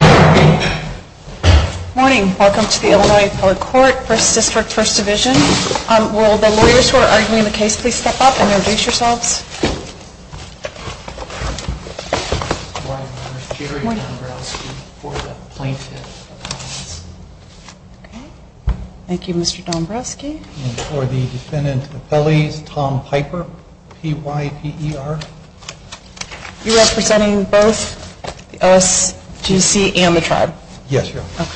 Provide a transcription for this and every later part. Good morning. Welcome to the Illinois Appellate Court, 1st District, 1st Division. Will the lawyers who are arguing the case please step up and introduce yourselves. Good morning. I'm Jerry Dombrowski for the Plaintiff Appeals. Thank you, Mr. Dombrowski. And for the Defendant Appellees, Tom Piper, P-Y-P-E-R. You're representing both the OSGC and the Tribe? Yes, Your Honor.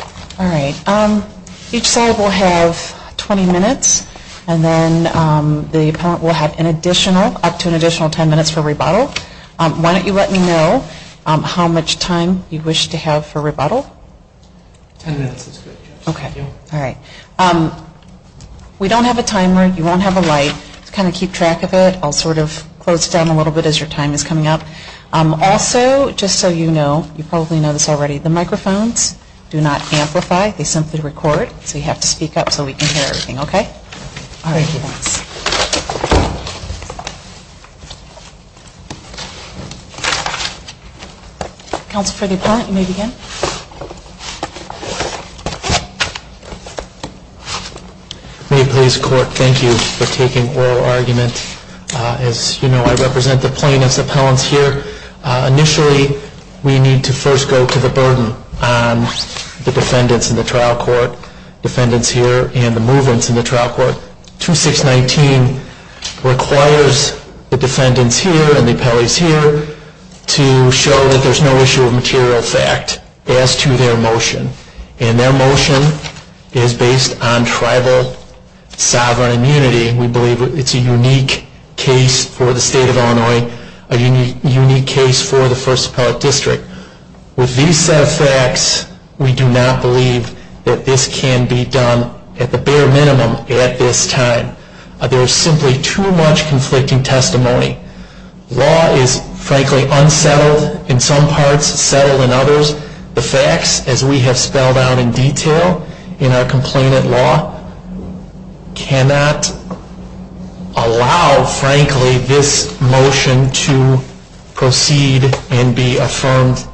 Okay. All right. Each side will have 20 minutes and then the Appellant will have an additional, up to an additional 10 minutes for rebuttal. Why don't you let me know how much time you wish to have for rebuttal? 10 minutes is good, Your Honor. Okay. All right. We don't have a timer. You won't have a light. Just kind of keep track of it. I'll sort of close it down a little bit as your time is coming up. Also, just so you know, you probably know this already, the microphones do not amplify. They simply record. So you have to speak up so we can hear everything, okay? Thank you, Your Honor. Counsel for the Appellant, you may begin. May it please the Court, thank you for taking oral argument. As you know, I represent the plaintiff's appellants here. Initially, we need to first go to the burden on the defendants in the trial court. Defendants here and the movements in the trial court. 2619 requires the defendants here and the appellees here to show that there's no issue of material fact as to their motion. And their motion is based on tribal sovereign immunity. We believe it's a unique case for the State of Illinois, a unique case for the First Appellate District. With these set of facts, we do not believe that this can be done at the bare minimum at this time. There is simply too much conflicting testimony. Law is, frankly, unsettled in some parts, settled in others. The facts, as we have spelled out in detail in our complainant law, cannot allow, frankly, this motion to proceed and be affirmed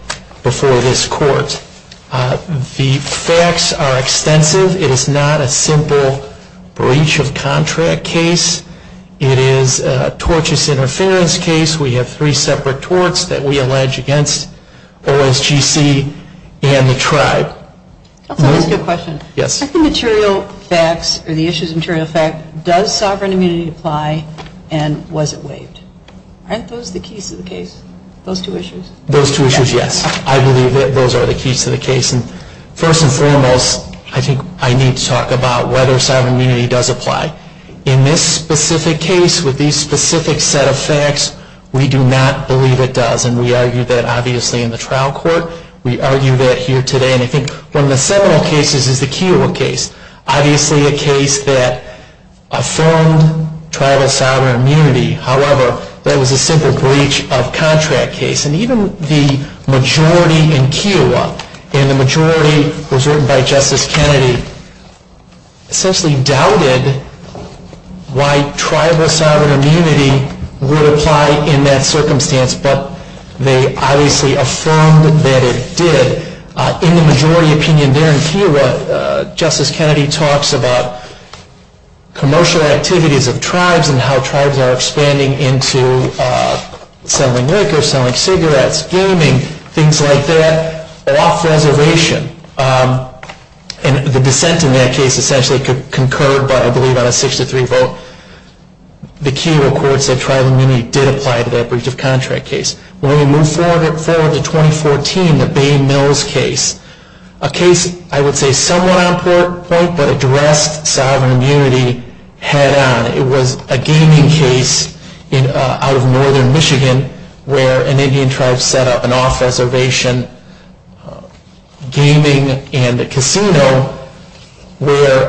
before this court. The facts are extensive. It is not a simple breach of contract case. It is a tortious interference case. We have three separate torts that we allege against OSGC and the tribe. Can I ask you a question? Yes. Are the issues of material fact, does sovereign immunity apply and was it waived? Aren't those the keys to the case? Those two issues? Those two issues, yes. I believe that those are the keys to the case. First and foremost, I think I need to talk about whether sovereign immunity does apply. In this specific case, with these specific set of facts, we do not believe it does. And we argue that, obviously, in the trial court. We argue that here today. And I think one of the seminal cases is the Kiowa case. Obviously, a case that affirmed tribal sovereign immunity. However, that was a simple breach of contract case. And even the majority in Kiowa, and the majority was written by Justice Kennedy, essentially doubted why tribal sovereign immunity would apply in that circumstance. But they obviously affirmed that it did. In the majority opinion there in Kiowa, Justice Kennedy talks about commercial activities of tribes and how tribes are expanding into selling liquor, selling cigarettes, gaming, things like that, off reservation. And the dissent in that case essentially concurred by, I believe, on a 6-3 vote. The Kiowa court said tribal immunity did apply to that breach of contract case. When we move forward to 2014, the Bay Mills case, a case, I would say, somewhat on point, but addressed sovereign immunity head on. It was a gaming case out of northern Michigan where an Indian tribe set up an off reservation gaming and casino where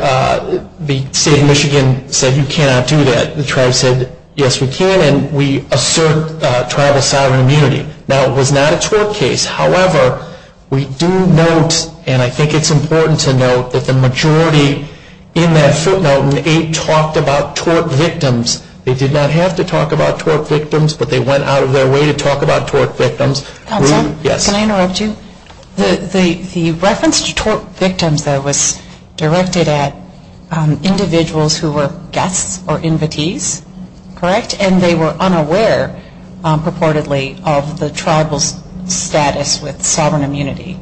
the state of Michigan said you cannot do that. The tribe said, yes, we can. And we assert tribal sovereign immunity. Now, it was not a tort case. However, we do note, and I think it's important to note, that the majority in that footnote in 8 talked about tort victims. They did not have to talk about tort victims, but they went out of their way to talk about tort victims. Counsel, can I interrupt you? The reference to tort victims, though, was directed at individuals who were guests or invitees, correct? And they were unaware, purportedly, of the tribal's status with sovereign immunity.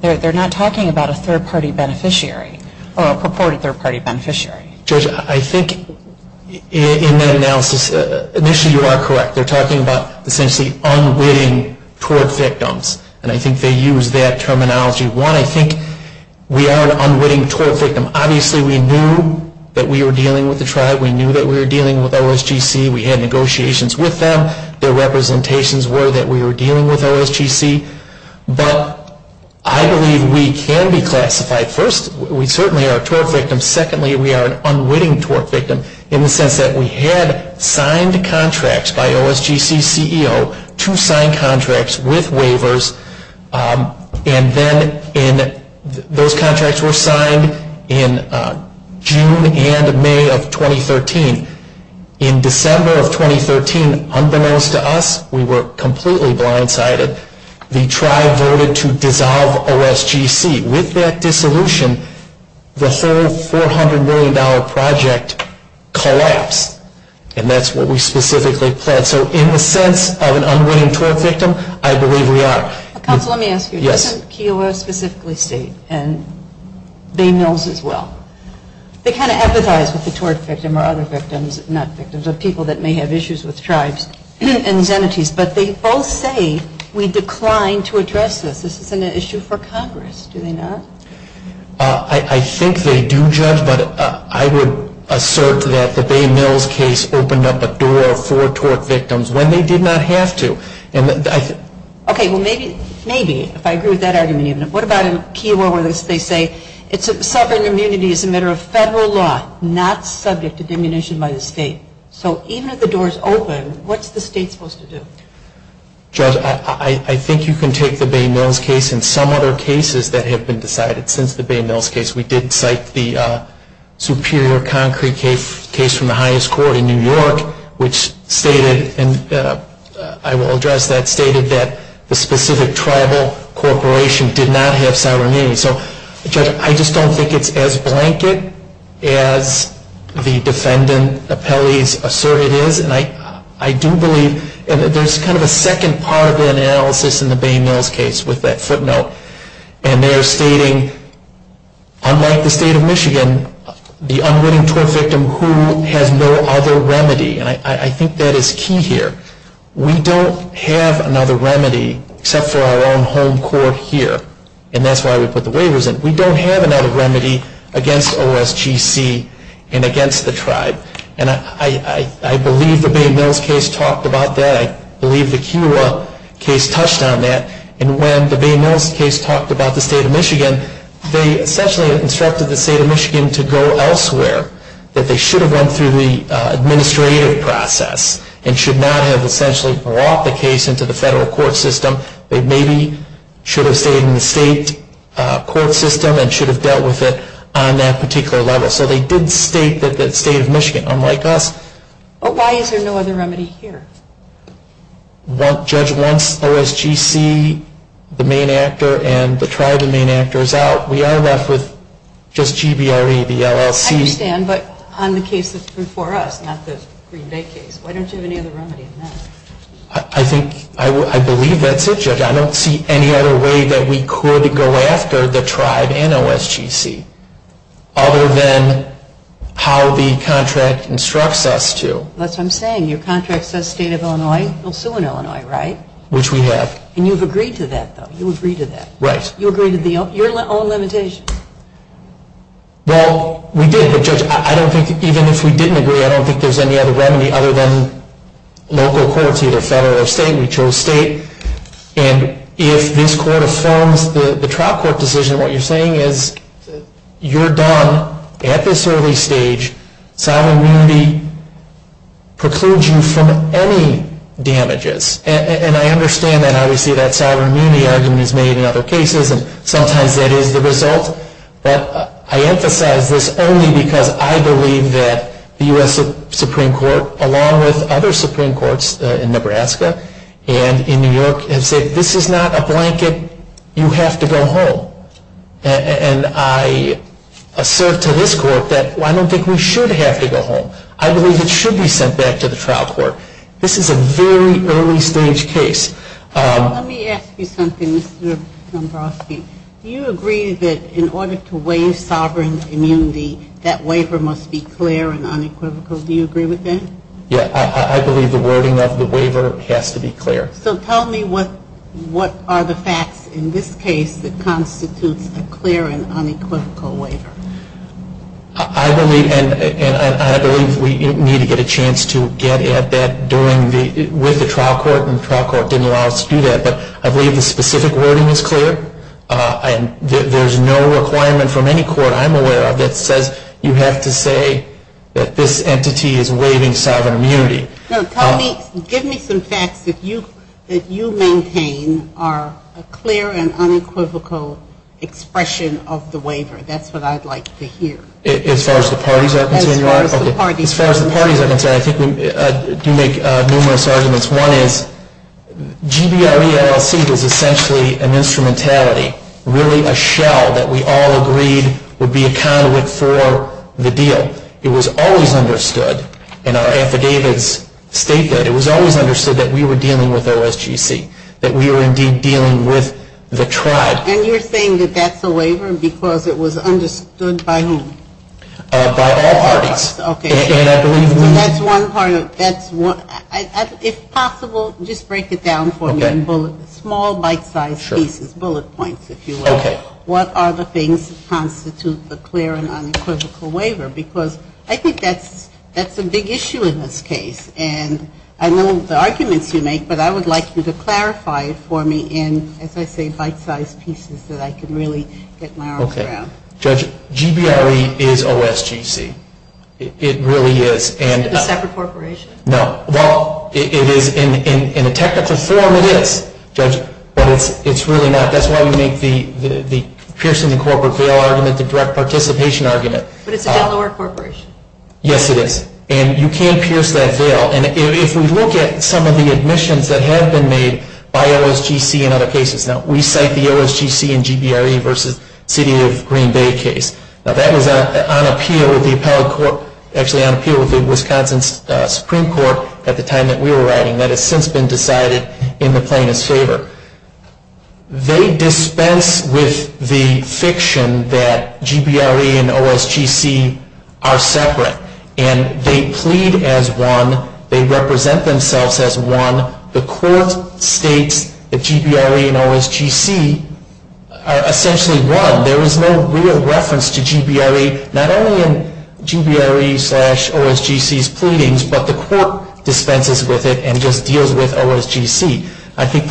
They're not talking about a third party beneficiary or a purported third party beneficiary. Judge, I think in that analysis, initially you are correct. They're talking about essentially unwitting tort victims. And I think they use that terminology. One, I think we are an unwitting tort victim. Obviously, we knew that we were dealing with the tribe. We knew that we were dealing with OSGC. We had negotiations with them. Their representations were that we were dealing with OSGC. But I believe we can be classified. First, we certainly are a tort victim. Secondly, we are an unwitting tort victim in the sense that we had signed contracts by OSGC's CEO to sign contracts with waivers. And then those contracts were signed in June and May of 2013. In December of 2013, unbeknownst to us, we were completely blindsided. The tribe voted to dissolve OSGC. With that dissolution, the whole $400 million project collapsed. And that's what we specifically pledged. So in the sense of an unwitting tort victim, I believe we are. Counsel, let me ask you. Yes. Doesn't KEOA specifically state, and Bay Mills as well, they kind of empathize with the tort victim or other victims, not victims, but people that may have issues with tribes and entities. But they both say we decline to address this. This is an issue for Congress. Do they not? I think they do, Judge. But I would assert that the Bay Mills case opened up a door for tort victims when they did not have to. Okay. Well, maybe, if I agree with that argument, what about in KEOA where they say sovereign immunity is a matter of federal law, not subject to diminution by the state. So even if the door is open, what's the state supposed to do? Judge, I think you can take the Bay Mills case and some other cases that have been decided since the Bay Mills case. We did cite the Superior Concrete case from the highest court in New York, which stated, and I will address that, stated that the specific tribal corporation did not have sovereign immunity. So, Judge, I just don't think it's as blanket as the defendant appellees assert it is. And I do believe there's kind of a second part of that analysis in the Bay Mills case with that footnote. And they're stating, unlike the state of Michigan, the unwitting tort victim who has no other remedy. And I think that is key here. We don't have another remedy except for our own home court here. And that's why we put the waivers in. We don't have another remedy against OSGC and against the tribe. And I believe the Bay Mills case talked about that. I believe the KEOA case touched on that. And when the Bay Mills case talked about the state of Michigan, they essentially instructed the state of Michigan to go elsewhere. That they should have went through the administrative process and should not have essentially brought the case into the federal court system. They maybe should have stayed in the state court system and should have dealt with it on that particular level. So they did state that the state of Michigan, unlike us. But why is there no other remedy here? Judge, once OSGC, the main actor, and the tribe, the main actor, is out, we are left with just GBRE, the LLC. I understand. But on the case that's before us, not the Green Bay case. Why don't you have any other remedy than that? I think, I believe that's it, Judge. I don't see any other way that we could go after the tribe and OSGC other than how the contract instructs us to. That's what I'm saying. Your contract says state of Illinois will sue in Illinois, right? Which we have. And you've agreed to that, though. You agree to that. Right. You agree to your own limitations. Well, we did. But, Judge, I don't think, even if we didn't agree, I don't think there's any other remedy other than local courts, either federal or state. We chose state. And if this court affirms the trial court decision, what you're saying is you're done at this early stage. Sovereign immunity precludes you from any damages. And I understand that, obviously, that sovereign immunity argument is made in other cases. And sometimes that is the result. But I emphasize this only because I believe that the U.S. Supreme Court, along with other Supreme Courts in Nebraska and in New York, have said, this is not a blanket. You have to go home. And I assert to this court that I don't think we should have to go home. I believe it should be sent back to the trial court. This is a very early stage case. Well, let me ask you something, Mr. Dombrowski. Do you agree that in order to waive sovereign immunity, that waiver must be clear and unequivocal? Do you agree with that? Yeah, I believe the wording of the waiver has to be clear. So tell me what are the facts in this case that constitutes a clear and unequivocal waiver? I believe we need to get a chance to get at that with the trial court. And the trial court didn't allow us to do that. But I believe the specific wording is clear. And there's no requirement from any court I'm aware of that says you have to say that this entity is waiving sovereign immunity. No, give me some facts that you maintain are clear and unequivocal expression of the waiver. That's what I'd like to hear. As far as the parties are concerned? As far as the parties are concerned. As far as the parties are concerned, I think we do make numerous arguments. One is GBRE LLC is essentially an instrumentality, really a shell that we all agreed would be a conduit for the deal. It was always understood in our affidavits statement, it was always understood that we were dealing with OSGC, that we were indeed dealing with the tribe. And you're saying that that's a waiver because it was understood by whom? By all parties. Okay. And I believe in them. So that's one part of it. That's one. If possible, just break it down for me in bullet, small bite-sized pieces, bullet points, if you will. Okay. What are the things that constitute the clear and unequivocal waiver? Because I think that's a big issue in this case. And I know the arguments you make, but I would like you to clarify it for me in, as I say, bite-sized pieces that I can really get my arms around. Okay. Judge, GBRE is OSGC. It really is. Is it a separate corporation? No. Well, it is. In a technical form, it is, Judge, but it's really not. That's why we make the piercing the corporate bail argument the direct participation argument. But it's a Delaware corporation. Yes, it is. And you can't pierce that bail. If we look at some of the admissions that have been made by OSGC in other cases, we cite the OSGC and GBRE versus City of Green Bay case. Now, that was on appeal with the Wisconsin Supreme Court at the time that we were writing. That has since been decided in the plaintiff's favor. They dispense with the fiction that GBRE and OSGC are separate. And they plead as one. They represent themselves as one. The court states that GBRE and OSGC are essentially one. There is no real reference to GBRE, not only in GBRE slash OSGC's pleadings, but the court dispenses with it and just deals with OSGC. I think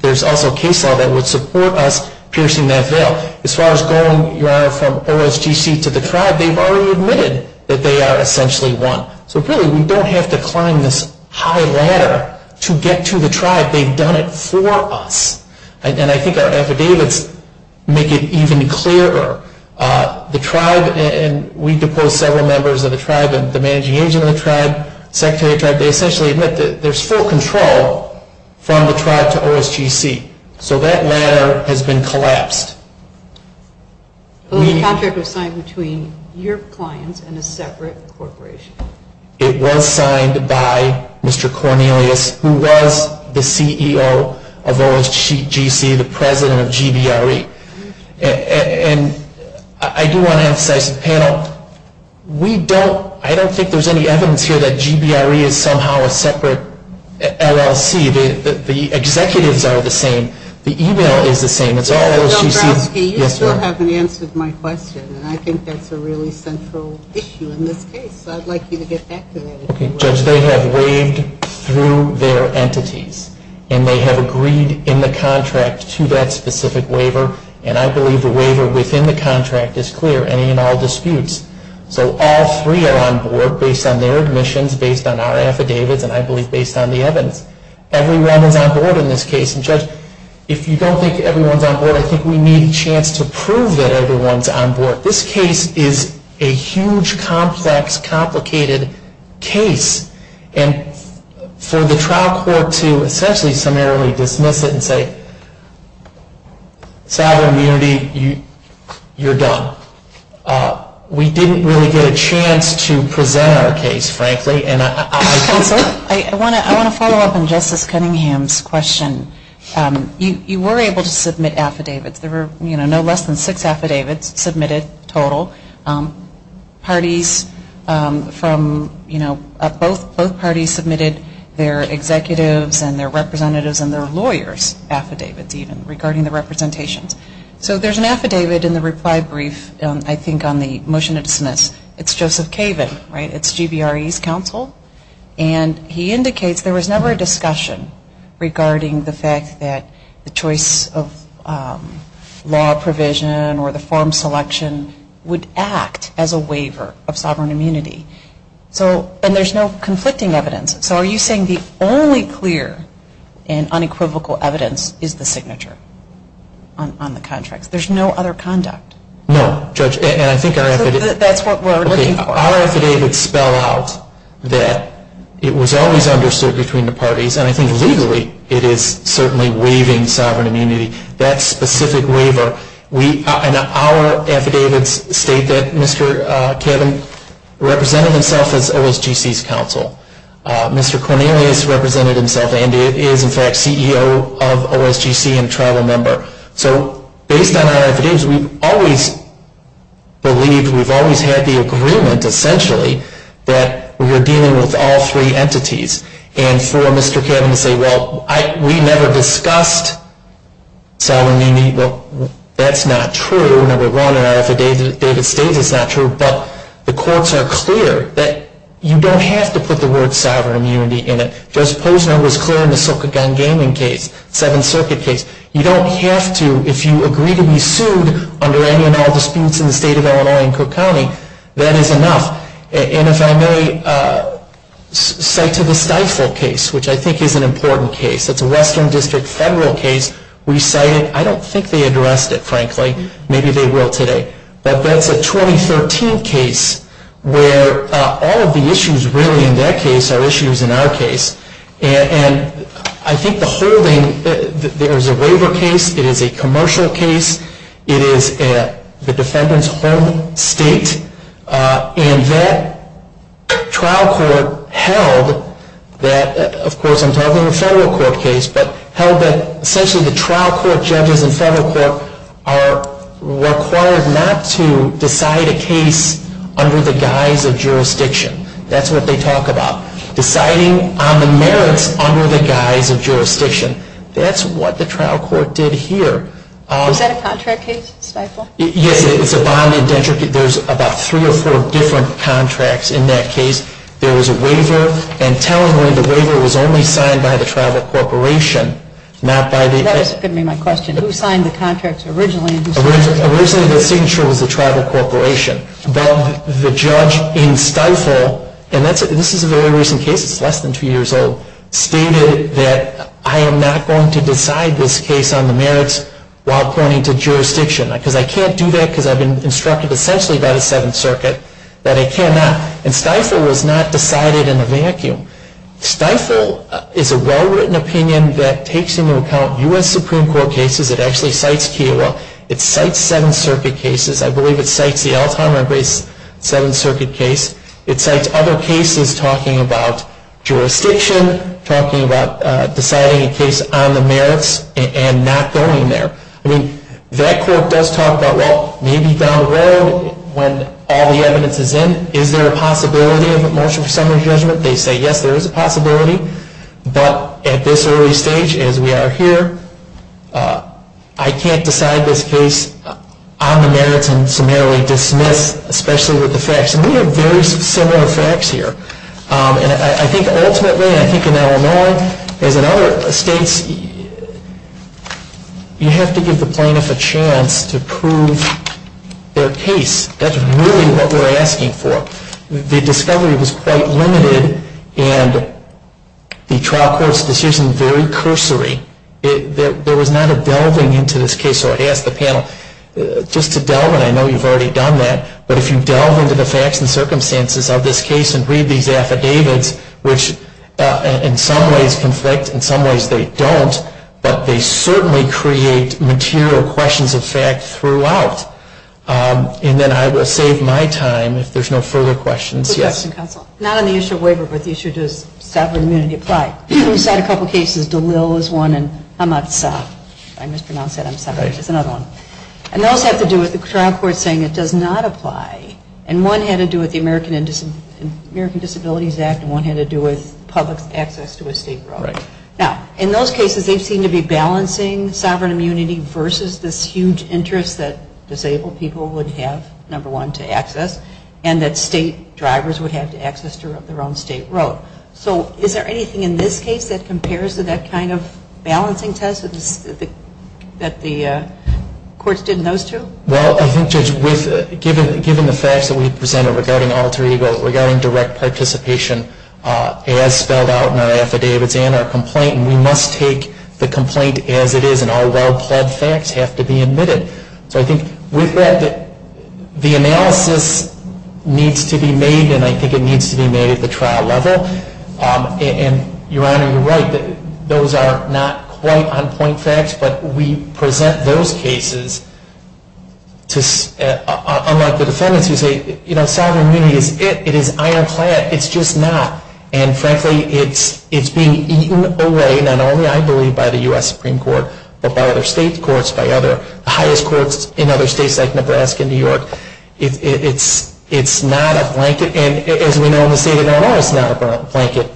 there's also case law that would support us piercing that bail. As far as going from OSGC to the tribe, they've already admitted that they are essentially one. So really, we don't have to climb this high ladder to get to the tribe. They've done it for us. And I think our affidavits make it even clearer. The tribe, and we deposed several members of the tribe, the managing agent of the tribe, secretary of the tribe, they essentially admit that there's full control from the tribe to OSGC. So that ladder has been collapsed. The contract was signed between your clients and a separate corporation. It was signed by Mr. Cornelius, who was the CEO of OSGC, the president of GBRE. And I do want to emphasize to the panel, I don't think there's any evidence here that GBRE is somehow a separate LLC. The executives are the same. The email is the same. Mr. Dombrowski, you still haven't answered my question. And I think that's a really central issue in this case. So I'd like you to get back to that. Judge, they have waived through their entities. And they have agreed in the contract to that specific waiver. And I believe the waiver within the contract is clear, any and all disputes. So all three are on board based on their admissions, based on our affidavits, and I believe based on the evidence. Everyone is on board in this case. And Judge, if you don't think everyone's on board, I think we need a chance to prove that everyone's on board. This case is a huge, complex, complicated case. And for the trial court to essentially summarily dismiss it and say, sovereign immunity, you're done. We didn't really get a chance to present our case, frankly. Counsel, I want to follow up on Justice Cunningham's question. You were able to submit affidavits. There were no less than six affidavits submitted total. Parties from, you know, both parties submitted their executives and their representatives and their lawyers' affidavits, even, regarding the representations. So there's an affidavit in the reply brief, I think on the motion of dismiss. It's Joseph Caven, right? It's GBRE's counsel. And he indicates there was never a discussion regarding the fact that the choice of law provision or the form selection would act as a waiver of sovereign immunity. So, and there's no conflicting evidence. So are you saying the only clear and unequivocal evidence is the signature on the contracts? There's no other conduct? No, Judge, and I think our affidavits... That's what we're looking for. Our affidavits spell out that it was always understood between the parties, and I think legally it is certainly waiving sovereign immunity. That specific waiver... And our affidavits state that Mr. Caven represented himself as OSGC's counsel. Mr. Cornelius represented himself and is, in fact, CEO of OSGC and a tribal member. So based on our affidavits, we've always believed, we've always had the agreement, essentially, that we were dealing with all three entities. And for Mr. Caven to say, well, we never discussed sovereign immunity, well, that's not true. Number one, our affidavit states it's not true, but the courts are clear that you don't have to put the word sovereign immunity in it. Judge Posner was clear in the Sokogon Gaming case, Seventh Circuit case. You don't have to if you agree to be sued under any and all disputes in the state of Illinois and Cook County. That is enough. And if I may cite to the Stifel case, which I think is an important case. It's a Western District federal case. We cite it. I don't think they addressed it, frankly. Maybe they will today. But that's a 2013 case where all of the issues really in that case are issues in our case. And I think the holding, there is a waiver case. It is a commercial case. It is the defendant's home state. And that trial court held that, of course I'm talking a federal court case, but held that essentially the trial court judges in federal court are required not to decide a case under the guise of jurisdiction. That's what they talk about. Deciding on the merits under the guise of jurisdiction. That's what the trial court did here. Was that a contract case, Stifel? Yes, it's a bond indenture. There's about three or four different contracts in that case. There was a waiver. And tellingly the waiver was only signed by the tribal corporation, not by the- That is going to be my question. Who signed the contracts originally? Originally the signature was the tribal corporation. But the judge in Stifel, and this is a very recent case, it's less than two years old, stated that I am not going to decide this case on the merits while pointing to jurisdiction. Because I can't do that because I've been instructed essentially by the Seventh Circuit that I cannot. And Stifel was not decided in a vacuum. Stifel is a well-written opinion that takes into account U.S. Supreme Court cases. It actually cites Kiowa. It cites Seventh Circuit cases. I believe it cites the Elthammer-based Seventh Circuit case. It cites other cases talking about jurisdiction, talking about deciding a case on the merits and not going there. I mean, that court does talk about, well, maybe down the road, when all the evidence is in, is there a possibility of a motion for summary judgment? They say, yes, there is a possibility. But at this early stage, as we are here, I can't decide this case on the merits and summarily dismiss, especially with the facts. And we have very similar facts here. And I think ultimately, I think in Illinois, as in other states, you have to give the plaintiff a chance to prove their case. That's really what we're asking for. The discovery was quite limited and the trial court's decision very cursory. There was not a delving into this case. So I'd ask the panel, just to delve, and I know you've already done that, but if you delve into the facts and circumstances of this case and read these affidavits, which in some ways conflict, in some ways they don't, but they certainly create material questions of fact throughout. And then I will save my time if there's no further questions. Yes? Not on the issue of waiver, but the issue of does sovereign immunity apply? We've had a couple of cases, DeLille is one, and Hamatsa, if I mispronounce that, Hamatsa is another one. And those have to do with the trial court saying it does not apply. And one had to do with the American Disabilities Act and one had to do with public access to a state road. Now, in those cases, they seem to be balancing sovereign immunity versus this huge interest that disabled people would have, number one, to access, and that state drivers would have to access to their own state road. So is there anything in this case that compares to that kind of balancing test that the courts did in those two? Well, I think, Judge, given the facts that we presented regarding alter ego, regarding direct participation as spelled out in our affidavits and our complaint, we must take the complaint as it is and all well-pled facts have to be admitted. So I think with that, the analysis needs to be made and I think it needs to be made at the trial level. And, Your Honor, you're right that those are not quite on point facts, but we present those cases unlike the defendants who say, you know, sovereign immunity is it, it is ironclad, it's just not. And frankly, it's being eaten away not only, I believe, by the U.S. Supreme Court, but by other state courts, by the highest courts in other states like Nebraska and New York. It's not a blanket, and as we know in the state of Illinois, it's not a blanket.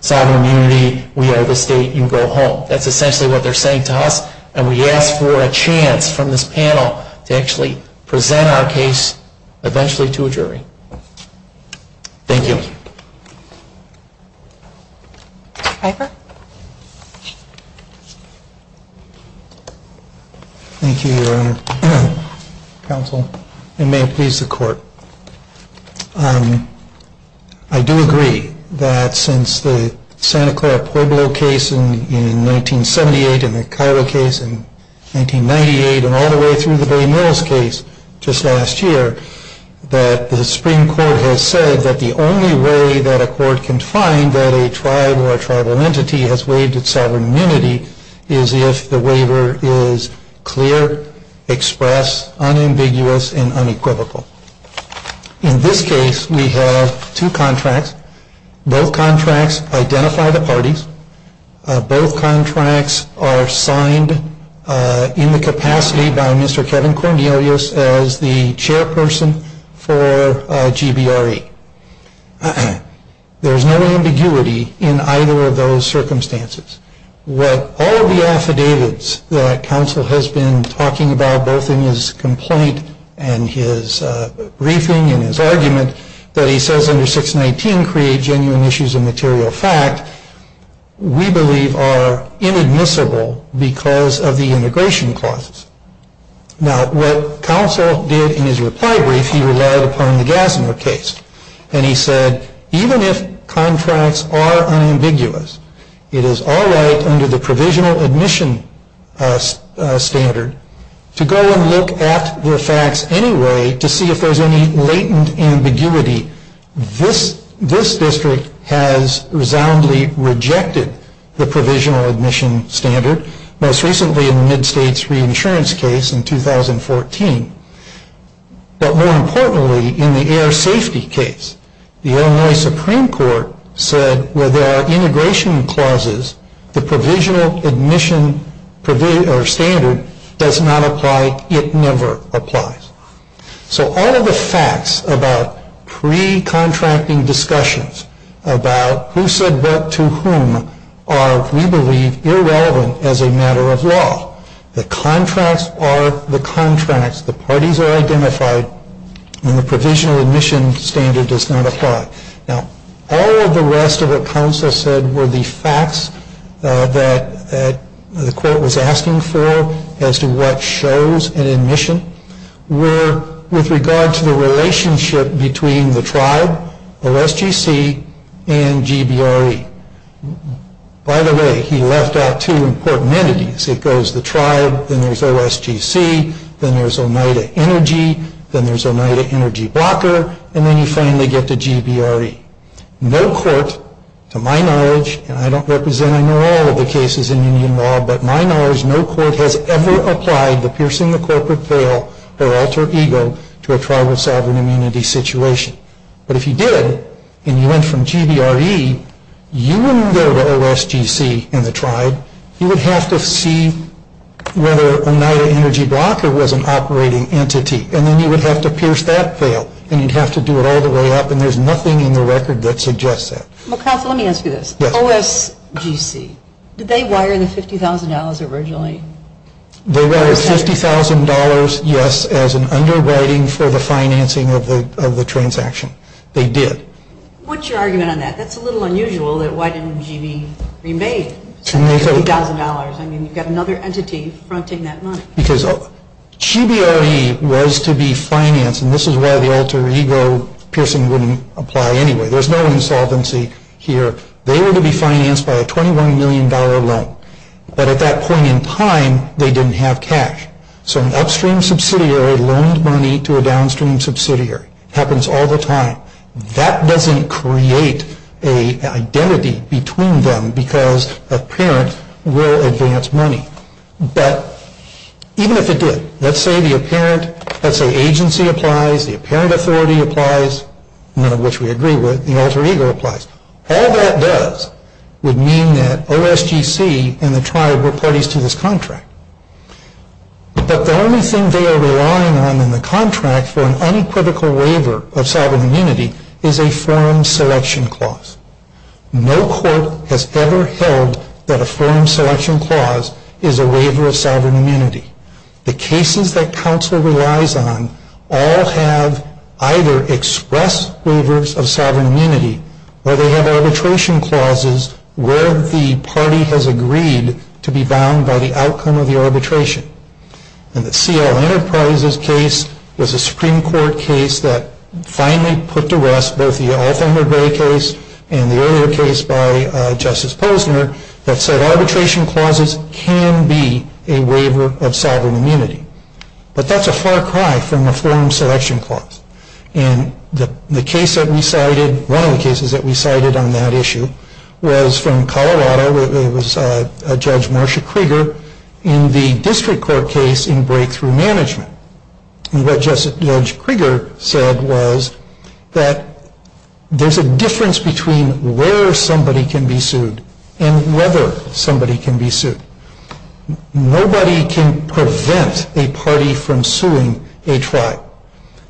Sovereign immunity, we are the state, you go home. That's essentially what they're saying to us and we ask for a chance from this panel to actually present our case eventually to a jury. Thank you. Mr. Piper? Thank you, Your Honor. Counsel. And may it please the Court. I do agree that since the Santa Clara Pueblo case in 1978 and the Cairo case in 1998 and all the way through the Bay Mills case just last year that the Supreme Court has said that the only way that a court can find that a tribe or a tribal entity has waived its sovereign immunity is if the waiver is clear, express, unambiguous, and unequivocal. In this case, we have two contracts. Both contracts identify the parties. Both contracts are signed in the capacity by Mr. Kevin Cornelius as the chairperson for GBRE. There's no ambiguity in either of those circumstances. What all the affidavits that counsel has been talking about both in his complaint and his briefing and his argument that he says under 619 create genuine issues of material fact we believe are inadmissible because of the immigration clauses. What counsel did in his reply brief, he relied upon the Gassner case and he said even if contracts are unambiguous, it is all right under the provisional admission standard to go and look at the facts anyway to see if there's any latent ambiguity. This district has resoundingly rejected the provisional admission standard most recently in the Mid-States reinsurance case in 2014 but more importantly in the air safety case the Illinois Supreme Court said where there are integration clauses, the provisional admission standard does not apply it never applies. All of the facts about pre-contracting discussions about who said what to whom are we believe irrelevant as a matter of law. The contracts are the contracts the parties are identified and the provisional admission standard does not apply. All of the rest of what counsel said were the facts that the court was asking for as to what shows an admission were with regard to the relationship between the tribe OSGC and GBRE. By the way, he left out two important entities. It goes the tribe then there's OSGC then there's Oneida Energy then there's Oneida Energy Blocker and then you finally get to GBRE. No court to my knowledge and I don't represent I know all of the cases in union law but my knowledge no court has ever applied the piercing the corporate veil or alter ego to a tribal sovereign community situation. But if you did and you went from GBRE you wouldn't go to OSGC and the tribe you would have to see whether Oneida Energy Blocker was an operating entity and then you would have to pierce that veil and you'd have to do it all the way up and there's nothing in the record that suggests that. Well counsel let me ask you this. Yes. OSGC did they wire the $50,000 originally? They wired $50,000 yes as an underwriting for the financing of the transaction. They did. What's your argument on that? That's a little unusual that why didn't GB remade $50,000? I mean you've got another entity fronting that money. Because GBRE was to be financed and this is why the alter ego piercing wouldn't apply anyway. There's no insolvency here. They were to be financed by a $21 million loan. But at that point in time they didn't have cash. So an upstream subsidiary loaned money to a downstream subsidiary. Happens all the time. That doesn't create an identity between them because a parent will advance money. But even if it did, let's say the apparent, let's say agency applies, the apparent authority applies none of which we agree with. The alter ego applies. All that does would mean that OSGC and the tribe were parties to this but the only thing they are relying on in the contract for an unequivocal waiver of sovereign immunity is a forum selection clause. No court has ever held that a forum selection clause is a waiver of sovereign immunity. The cases that counsel relies on all have either express waivers of sovereign immunity or they have arbitration clauses where the party has agreed to be bound by the arbitration. And the C.L. Enterprises case was a Supreme Court case that finally put to rest both the Alfamir Gray case and the earlier case by Justice Posner that said arbitration clauses can be a waiver of sovereign immunity. But that's a far cry from a forum selection clause. And the case that we cited, one of the cases that we cited on that issue, was from Colorado. It was Judge Marsha Krieger in the District Court case in Breakthrough Management. And what Judge Krieger said was that there's a difference between where somebody can be sued and whether somebody can be sued. Nobody can prevent a party from suing a tribe.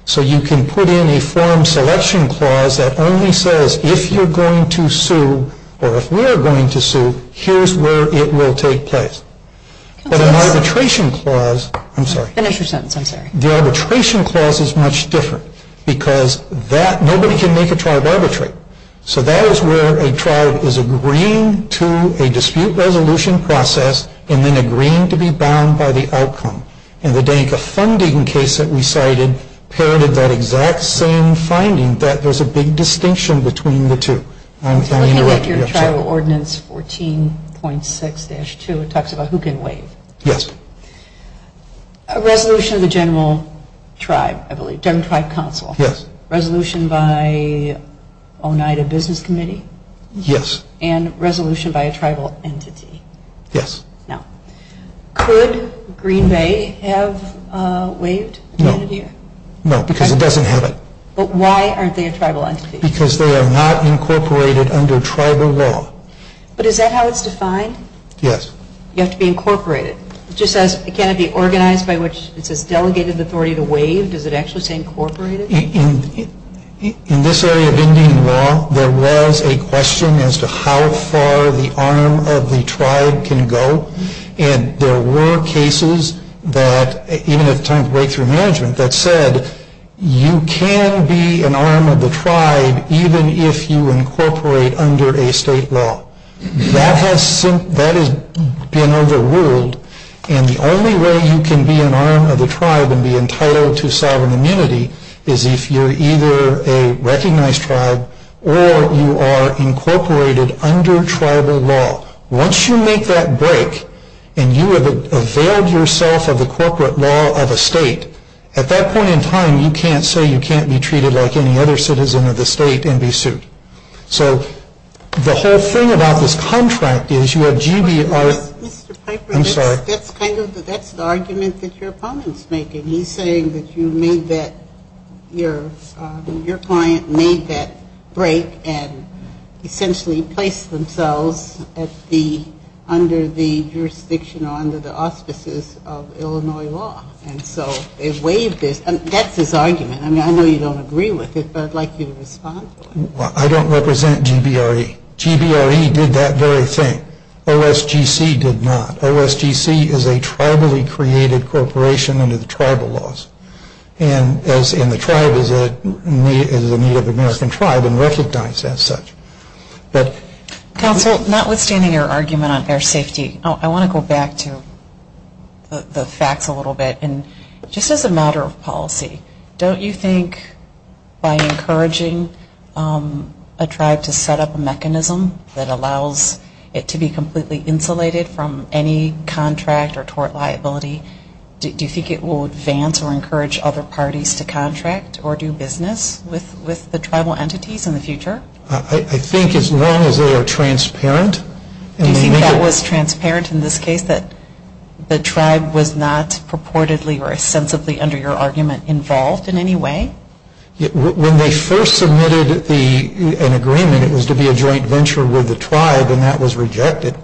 So you can put in a forum selection clause that only says if you're going to sue or if we're going to sue, here's where it will take place. But an arbitration clause I'm sorry. The arbitration clause is much different because nobody can make a tribe arbitrate. So that is where a tribe is agreeing to a dispute resolution process and then agreeing to be bound by the outcome. And the Danica Funding case that we cited parented that exact same finding that there's a big distinction between the two. Your Tribal Ordinance 14.6-2 talks about who can waive. Yes. A resolution of the General Tribe Council. Yes. Resolution by Oneida Business Committee. Yes. And resolution by a tribal entity. Yes. Could Green Bay have waived? No. No, because it doesn't have it. But why aren't they a tribal entity? Because they are not incorporated under tribal law. But is that how it's defined? Yes. You have to be incorporated. Can it be organized by which it says delegated authority to waive? Does it actually say incorporated? In this area of Indian law there was a question as to how far the arm of the tribe can go. And there were cases that even at the time of breakthrough management that said you can be an arm of the tribe even if you incorporate under a state law. That has been overruled and the only way you can be an arm of the tribe and be entitled to sovereign immunity is if you're either a recognized tribe or you are incorporated under tribal law. Once you make that break and you have availed yourself of the corporate law of a state, at that point in time you can't say you can't be treated like any other citizen of the state and be sued. So the whole thing about this contract is you have GBR Mr. Piper, that's the argument that your opponent's making. He's saying that you made that your client made that break and essentially placed themselves at the under the jurisdiction or under the auspices of Illinois law. That's his argument. I know you don't agree with it but I'd like you to respond. I don't represent GBRE. GBRE did that very thing. OSGC did not. OSGC is a tribally created corporation under the tribal laws. And the tribe is a Native American tribe and recognized as such. Counsel, notwithstanding your argument on air safety, I want to go back to the facts a little bit. Just as a matter of policy, don't you think by encouraging a tribe to set up a mechanism that allows it to be completely insulated from any contract or tort liability, do you think it will advance or encourage other parties to contract or do business with the tribal entities in the future? I think as long as they are transparent. Do you think that was transparent in this case, that the tribe was not purportedly or sensibly, under your argument, involved in any way? When they first submitted an agreement, it was to be a joint venture with the tribe and that was rejected.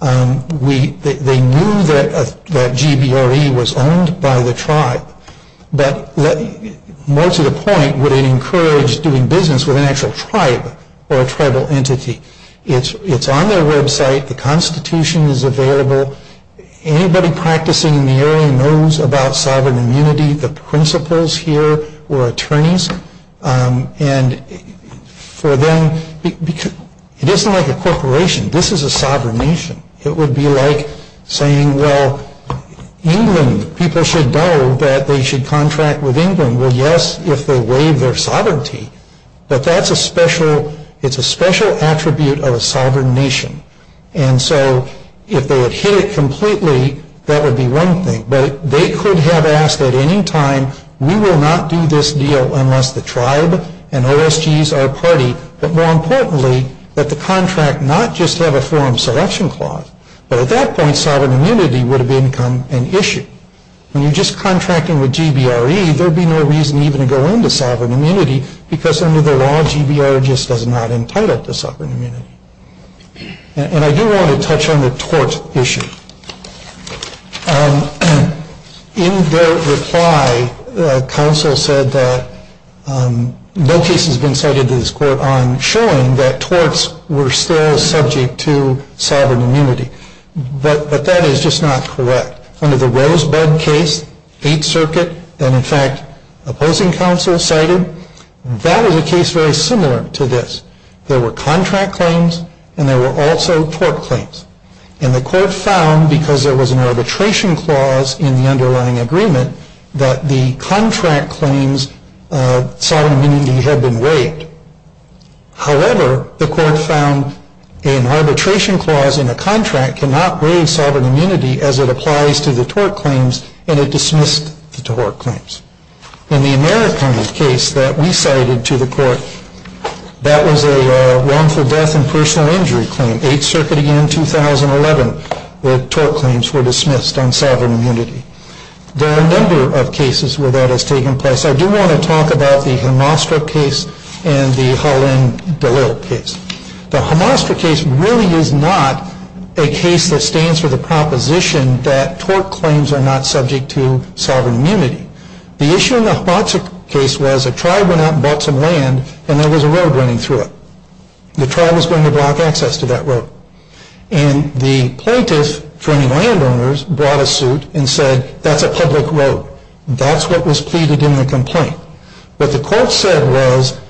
They knew that GBRE was owned by the tribe. More to the point, would it encourage doing business with an actual tribe or a tribal entity? It's on their website. The Constitution is available. Anybody practicing in the area knows about sovereign immunity. The principals here were attorneys. It isn't like a corporation. This is a sovereign nation. It would be like saying, well, England, people should know that they should contract with England. Well, yes, if they waive their sovereignty, but that's a special attribute of a sovereign nation. If they had hit it completely, that would be one thing. They could have asked at any time, we will not do this deal unless the tribe and OSGs are a party, but more importantly, that the contract not just have a forum selection clause. At that point, sovereign immunity would have become an issue. When you are just contracting with GBRE, there would be no reason even to go into sovereign immunity because under the law, GBR just does not entitle to sovereign immunity. I do want to touch on the tort issue. In their reply, counsel said that no case has been cited in this court on showing that torts were still subject to sovereign immunity, but that is just not correct. Under the Rosebud case, 8th Circuit, that in fact opposing counsel cited, that is a case very similar to this. There were contract claims and there were also tort claims. And the court found, because there was an arbitration clause in the underlying agreement, that the contract claims of sovereign immunity had been waived. However, the court found an arbitration clause in a contract cannot waive sovereign immunity as it applies to the tort claims and it dismissed the tort claims. In the American case that we cited to the court, that was a wrongful death and personal injury claim. 8th Circuit in 2011 the tort claims were dismissed on sovereign immunity. There are a number of cases where that has taken place. I do want to talk about the Hamastra case and the Holland-DeLitt case. The Hamastra case really is not a case that stands for the proposition that tort claims are not subject to sovereign immunity. The issue in the Hamastra case was a tribe went out and bought some land and there was a road running through it. The tribe was going to block access to that road. And the plaintiff, for any land owners, brought a suit and said that's a public road. That's what was pleaded in the complaint. What the court said was,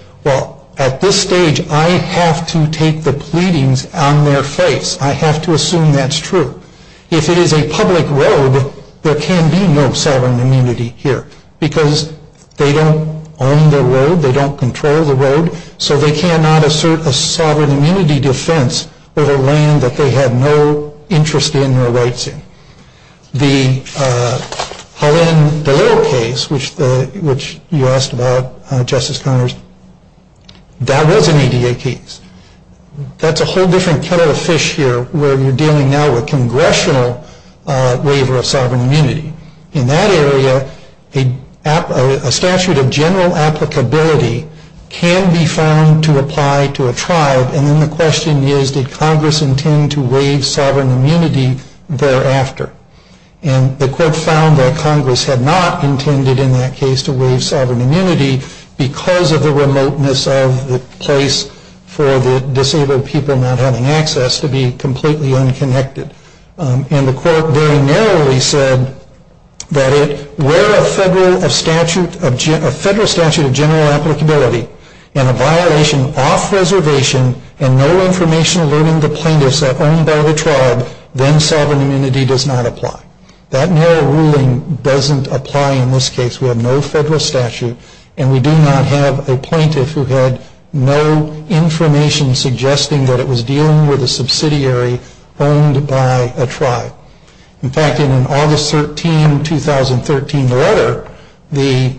at this stage, I have to take the pleadings on their face. I have to assume that's true. If it is a public road, there can be no sovereign immunity here. Because they don't own the road, they don't control the road, so they cannot assert a sovereign immunity defense with a land that they have no interest in or rights in. The Holland-DeLitt case, which you asked about Justice Connors, that was an EDA case. That's a whole different kettle of fish here where you're dealing now with congressional waiver of sovereign immunity. In that area, a statute of general applicability can be found to apply to a tribe, and then the question is did Congress intend to waive sovereign immunity thereafter? And the court found that Congress had not intended in that case to waive sovereign immunity because of the remoteness of the place for the disabled people not having access to be completely unconnected. And the court very narrowly said that where a federal statute of general applicability and a violation off reservation and no information alerting the plaintiffs that are owned by the tribe, then sovereign immunity does not apply. That narrow ruling doesn't apply in this case. We have no federal statute, and we do not have a plaintiff who had no information suggesting that it was dealing with a subsidiary owned by a tribe. In fact, in an August 13, 2013 letter, the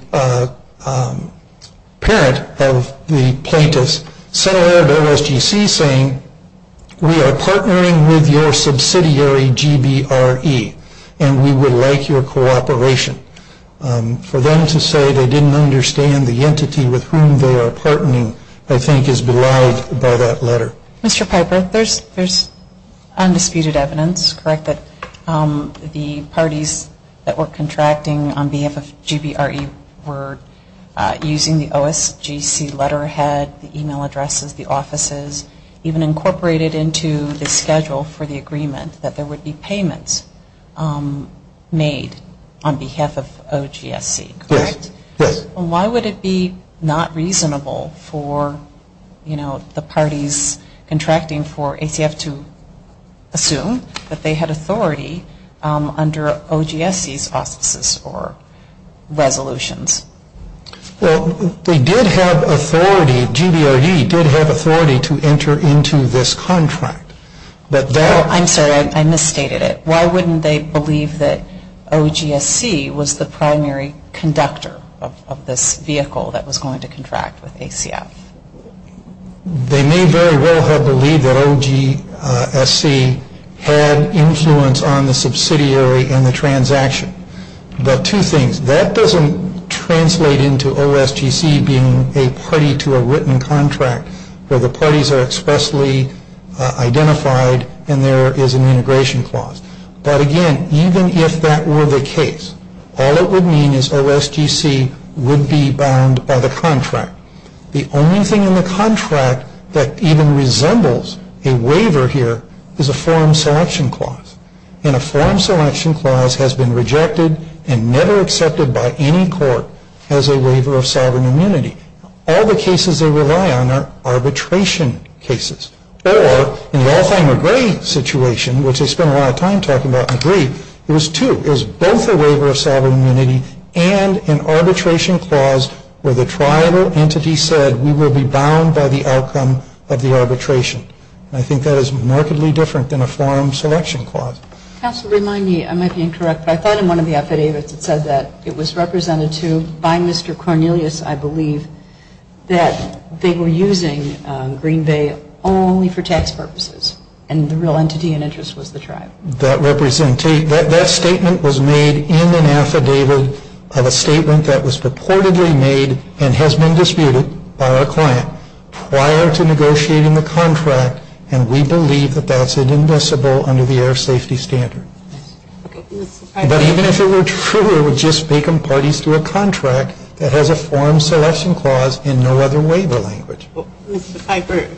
parent of the plaintiff sent a letter to OSGC saying we are partnering with your subsidiary GBRE and we would like your cooperation. For them to say they didn't understand the entity with whom they are partnering I think is belied by that letter. Mr. Piper, there's undisputed evidence, correct, that the parties that were contracting on behalf of GBRE were using the OSGC letterhead, the email addresses, the offices, even incorporated into the schedule for the agreement that there would be payments made on behalf of OGSC, correct? Yes. Why would it be not reasonable for the parties contracting for ACF to assume that they had authority under OGSC's auspices or resolutions? Well, they did have authority, GBRE did have authority to enter into this contract. I'm sorry, I misstated it. Why wouldn't they believe that OGSC was the primary conductor of this vehicle that was going to contract with ACF? They may very well have believed that OGSC had influence on the subsidiary and the transaction. But two things, that doesn't translate into OSGC being a party to a written contract where the parties are expressly identified and there is an integration clause. But again, even if that were the case, all it would mean is OSGC would be bound by the contract. The only thing in the contract that even resembles a waiver here is a form selection clause. And a form selection clause has been rejected and never accepted by any court as a waiver of sovereign immunity. All the cases they rely on are arbitration cases. Or, in the Alfheimer-Gray situation, which I spent a lot of time talking about, I agree, it was two. It was both a waiver of sovereign immunity and an arbitration clause where the tribal entity said we will be bound by the outcome of the arbitration. And I think that is markedly different than a form selection clause. Counsel, remind me, I might be incorrect, but I thought in one of the affidavits it said that it was represented to by Mr. Cornelius, I believe, that they were using Green Bay only for tax purposes. And the real entity and interest was the tribe. That statement was made in an affidavit of a statement that was purportedly made and has been disputed by our client prior to negotiating the contract and we believe that that's inadmissible under the air safety standard. But even if it were true, it would just make them parties to a contract that has a form selection clause and no other waiver language. Mr. Piper,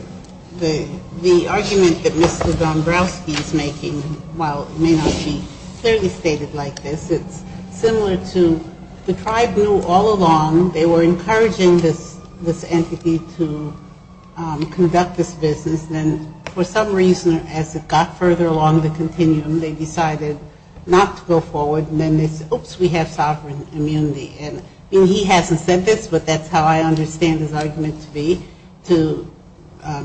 the argument that Mr. Dombrowski is making while it may not be clearly stated like this, it's similar to the tribe knew all along they were encouraging this entity to conduct this business and for some reason as it got further along the continuum they decided not to go forward and then they said, oops, we have sovereign immunity. And he hasn't said this but that's how I understand his argument to be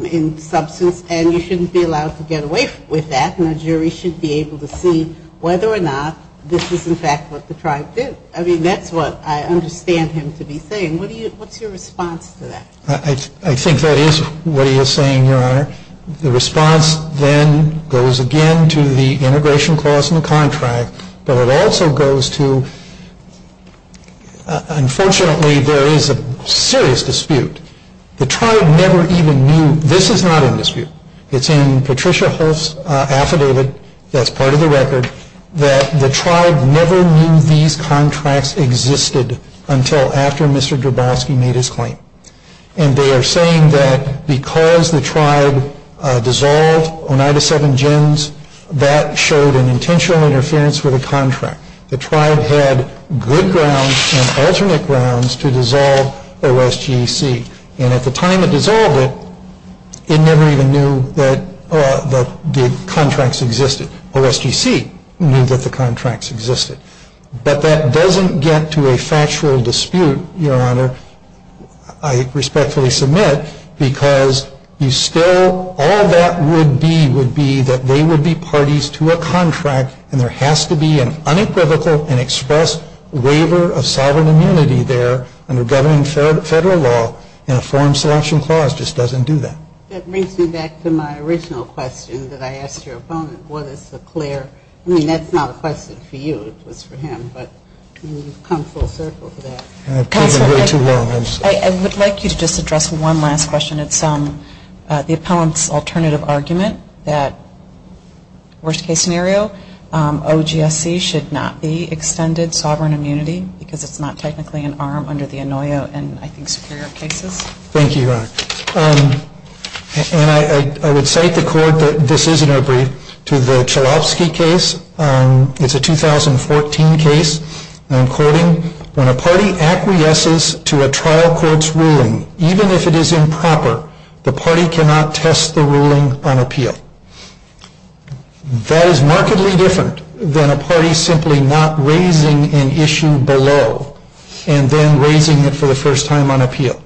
in substance and you shouldn't be allowed to get away with that and a jury should be able to see whether or not this is in fact what the tribe did. I mean, that's what I understand him to be saying. What's your response to that? I think that is what he is saying, Your Honor. The response then goes again to the integration clause in the contract but it also goes to unfortunately there is a serious dispute. The tribe never even knew, this is not in dispute, it's in Patricia Holst's affidavit that's part of the record that the tribe never knew these contracts existed until after Mr. Dombrowski made his claim. And they are saying that because the tribe dissolved Oneida 7 Gens that showed an intentional interference with the contract. The tribe had good grounds and alternate grounds to dissolve OSGC. And at the time it dissolved it, it never even knew that the contracts existed. OSGC knew that the contracts existed. But that doesn't get to a factual dispute, Your Honor, I respectfully submit because you still, all that would be would be that they would be parties to a contract and there has to be an unequivocal and expressed waiver of sovereign immunity there under governing federal law and a foreign selection clause just doesn't do that. That brings me back to my original question that I asked your opponent, what is the clear, I mean that's not a question for you, it was for him, but you've come full circle for that. Counselor, I would like you to just address one last question. It's the opponent's alternative argument that worst case scenario OGSC should not be extended sovereign immunity because it's not technically an arm under the Inouye and I think Superior cases. Thank you, Your Honor. And I would cite the court that this is in a brief to the Chalofsky case. It's a 2014 case and I'm quoting, when a party acquiesces to a trial court's ruling, even if it is improper, the party cannot test the ruling on appeal. That is markedly different than a party simply not raising an issue below and then raising it for the first time on appeal.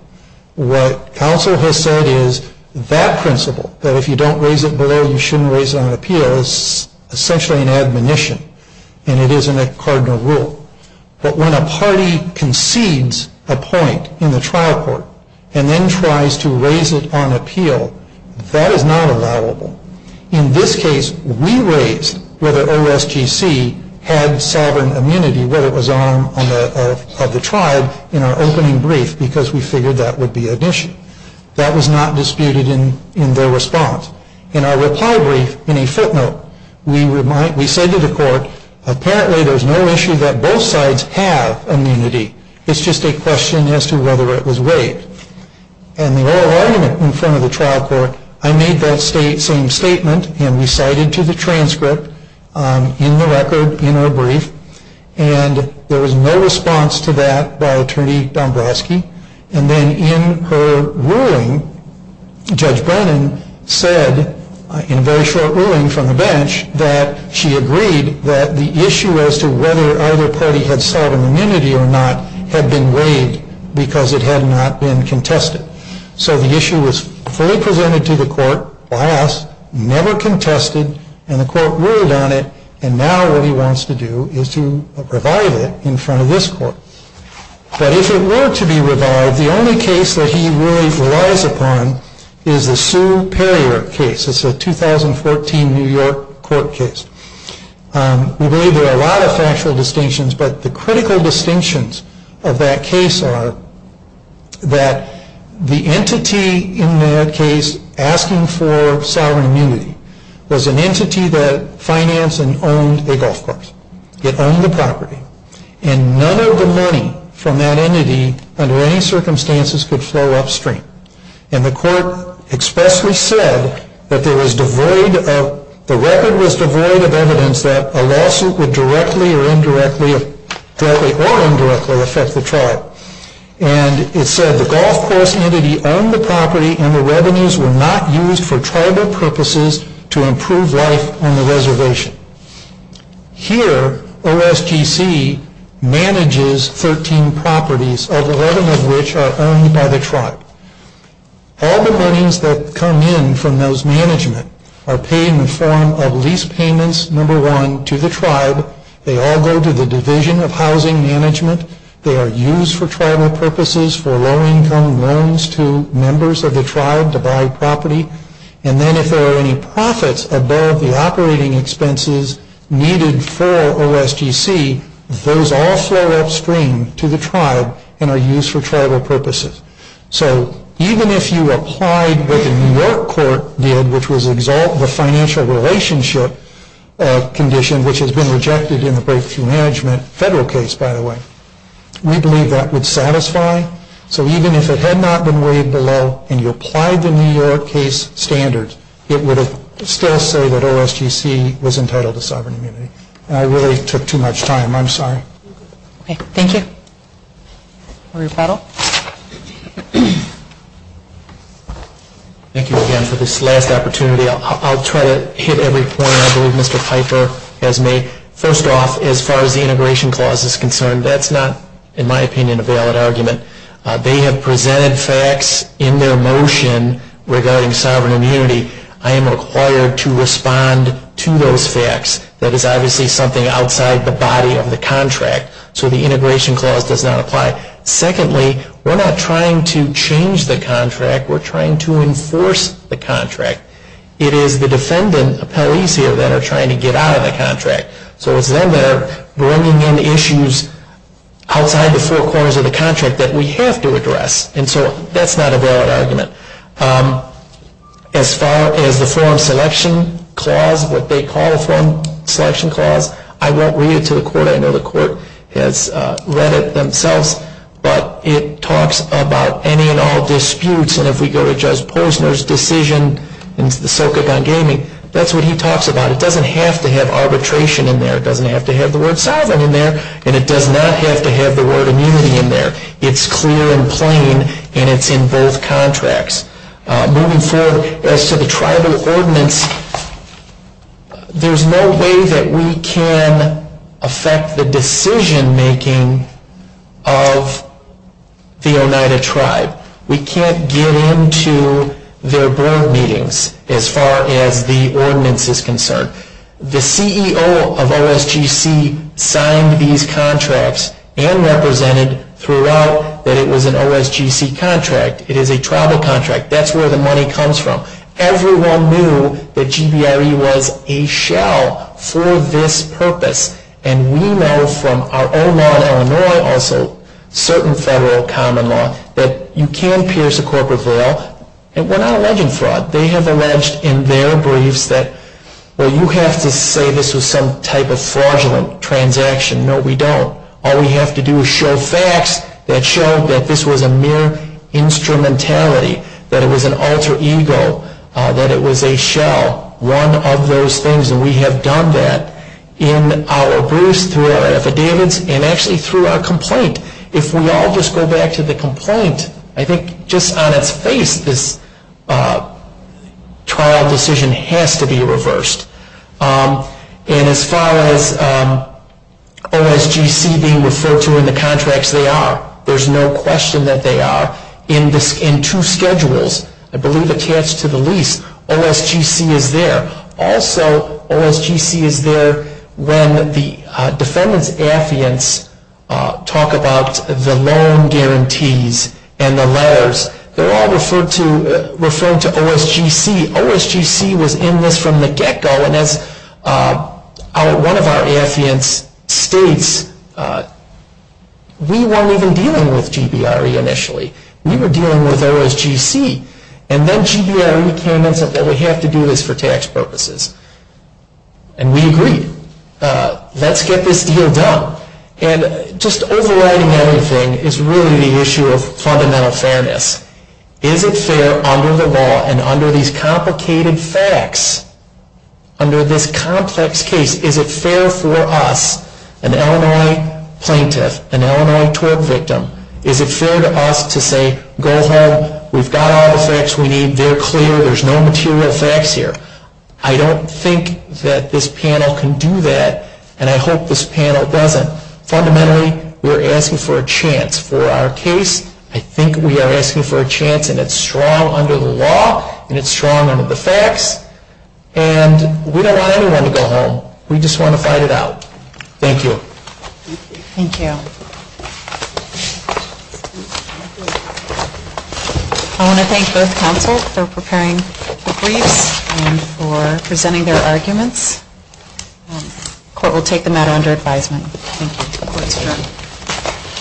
What counsel has said is that principle that if you don't raise it below you shouldn't raise it on appeal is essentially an admonition and it isn't a cardinal rule. But when a party concedes a point in the trial court and then tries to raise it on appeal, that is not allowable. In this case we raised whether OSGC had sovereign immunity whether it was an arm of the tribe in our opening brief because we figured that would be an issue. That was not disputed in their response. In our reply brief, in a footnote, we said to the court, apparently there's no issue that both sides have immunity. It's just a question as to whether it was waived. And the oral argument in front of the trial court, I made that same statement and recited to the transcript in the record, in our brief and there was no response to that by Attorney Dombrowski and then in her ruling, Judge Brennan said, in a very short ruling from the bench, that she agreed that the issue as to whether either party had sovereign immunity or not had been waived because it had not been contested. So the issue was fully presented to the court, never contested and the court ruled on it and now what he wants to do is to revive it in front of this court. But if it were to be revived, the only case that he really relies upon is the Sue Perrier case. It's a 2014 New York court case. We believe there are a lot of factual distinctions but the critical distinctions of that case are that the entity in that case asking for sovereign immunity was an entity that financed and owned a golf course. It owned the property and none of the money from that entity under any circumstances could flow upstream. And the court expressly said that there was devoid of evidence that a lawsuit would directly or indirectly affect the tribe. And it said the golf course entity owned the property and the revenues were not used for tribal purposes to improve life on the reservation. Here, OSGC manages 13 properties of 11 of which are owned by the tribe. All the earnings that come in from those management are paid in the form of lease payments, number one, to the tribe. They all go to the division of housing management. They are used for tribal purposes for low-income loans to members of the tribe to buy property. And then if there are any profits above the operating expenses needed for OSGC, those all flow upstream to the tribe and are used for tribal purposes. So even if you applied what the New York court did, which was exalt the financial relationship condition, which has been rejected in the management federal case, by the way, we believe that would satisfy. So even if it had not been weighed below and you applied the New York case standards, it would still say that OSGC was entitled to sovereign immunity. And I really took too much time. I'm sorry. Thank you. A rebuttal? Thank you again for this last opportunity. I'll try to hit every point I believe Mr. Piper has made. First off, as far as the integration clause is concerned, that's not in my opinion a valid argument. They have presented facts in their motion regarding sovereign immunity. I am required to respond to those facts. That is obviously something outside the body of the contract. So the integration clause does not apply. Secondly, we're not trying to change the contract. We're trying to enforce the contract. It is the defendant appellees here that are trying to get out of the contract. So it's them that are bringing in issues outside the four corners of the contract that we have to address. And so that's not a valid argument. As far as the forum selection clause, what they call the forum selection clause, I won't read it to the court. I know the court has read it themselves. But it talks about any and all disputes. And if we go to Judge Posner's decision in the Sokogon gaming, that's what he talks about. It doesn't have to have arbitration in there. It doesn't have to have the word sovereign in there. And it does not have to have the word immunity in there. It's clear and plain, and it's in both contracts. Moving forward, as to the tribal ordinance, there's no way that we can affect the decision making of the Oneida tribe. We can't get into their board meetings as far as the ordinance is concerned. The CEO of OSGC signed these contracts and represented throughout that it was an OSGC contract. It is a tribal contract. That's where the money comes from. Everyone knew that GBRE was a shell for this purpose. And we know from our own law in Illinois, also certain federal common law, that you can pierce a corporate veil. And we're not alleging fraud. They have alleged in their briefs that well, you have to say this was some type of fraudulent transaction. No, we don't. All we have to do is show facts that show that this was a mere instrumentality, that it was an alter ego, that it was a shell. One of those things, and we have done that in our briefs, through our affidavits, and actually through our complaint. If we all just go back to the complaint, I think just on its face, this trial decision has to be reversed. And as far as OSGC being referred to in the contracts, they are. There's no question that they are. In two schedules, I believe attached to the lease, OSGC is there. Also, OSGC is there when the defendant's affidavits talk about the loan guarantees and the letters. They're all referring to OSGC. OSGC was in this from the get-go, and as one of our affidavits states, we weren't even dealing with GBRE initially. We were dealing with OSGC. And then we were dealing with the lease for tax purposes. And we agreed. Let's get this deal done. And just overriding everything is really the issue of fundamental fairness. Is it fair under the law and under these complicated facts, under this complex case, is it fair for us, an Illinois plaintiff, an Illinois tort victim, is it fair to us to say, go home, we've got all the facts we need, they're clear, there's no material facts here? I don't think that this panel can do that, and I hope this panel doesn't. Fundamentally, we're asking for a chance for our case. I think we are asking for a chance, and it's strong under the law, and it's strong under the facts. And we don't want anyone to go home. We just want to fight it out. Thank you. Thank you. I want to thank both counsel for preparing the briefs and for presenting their arguments. The court will take the matter under advisement. Thank you.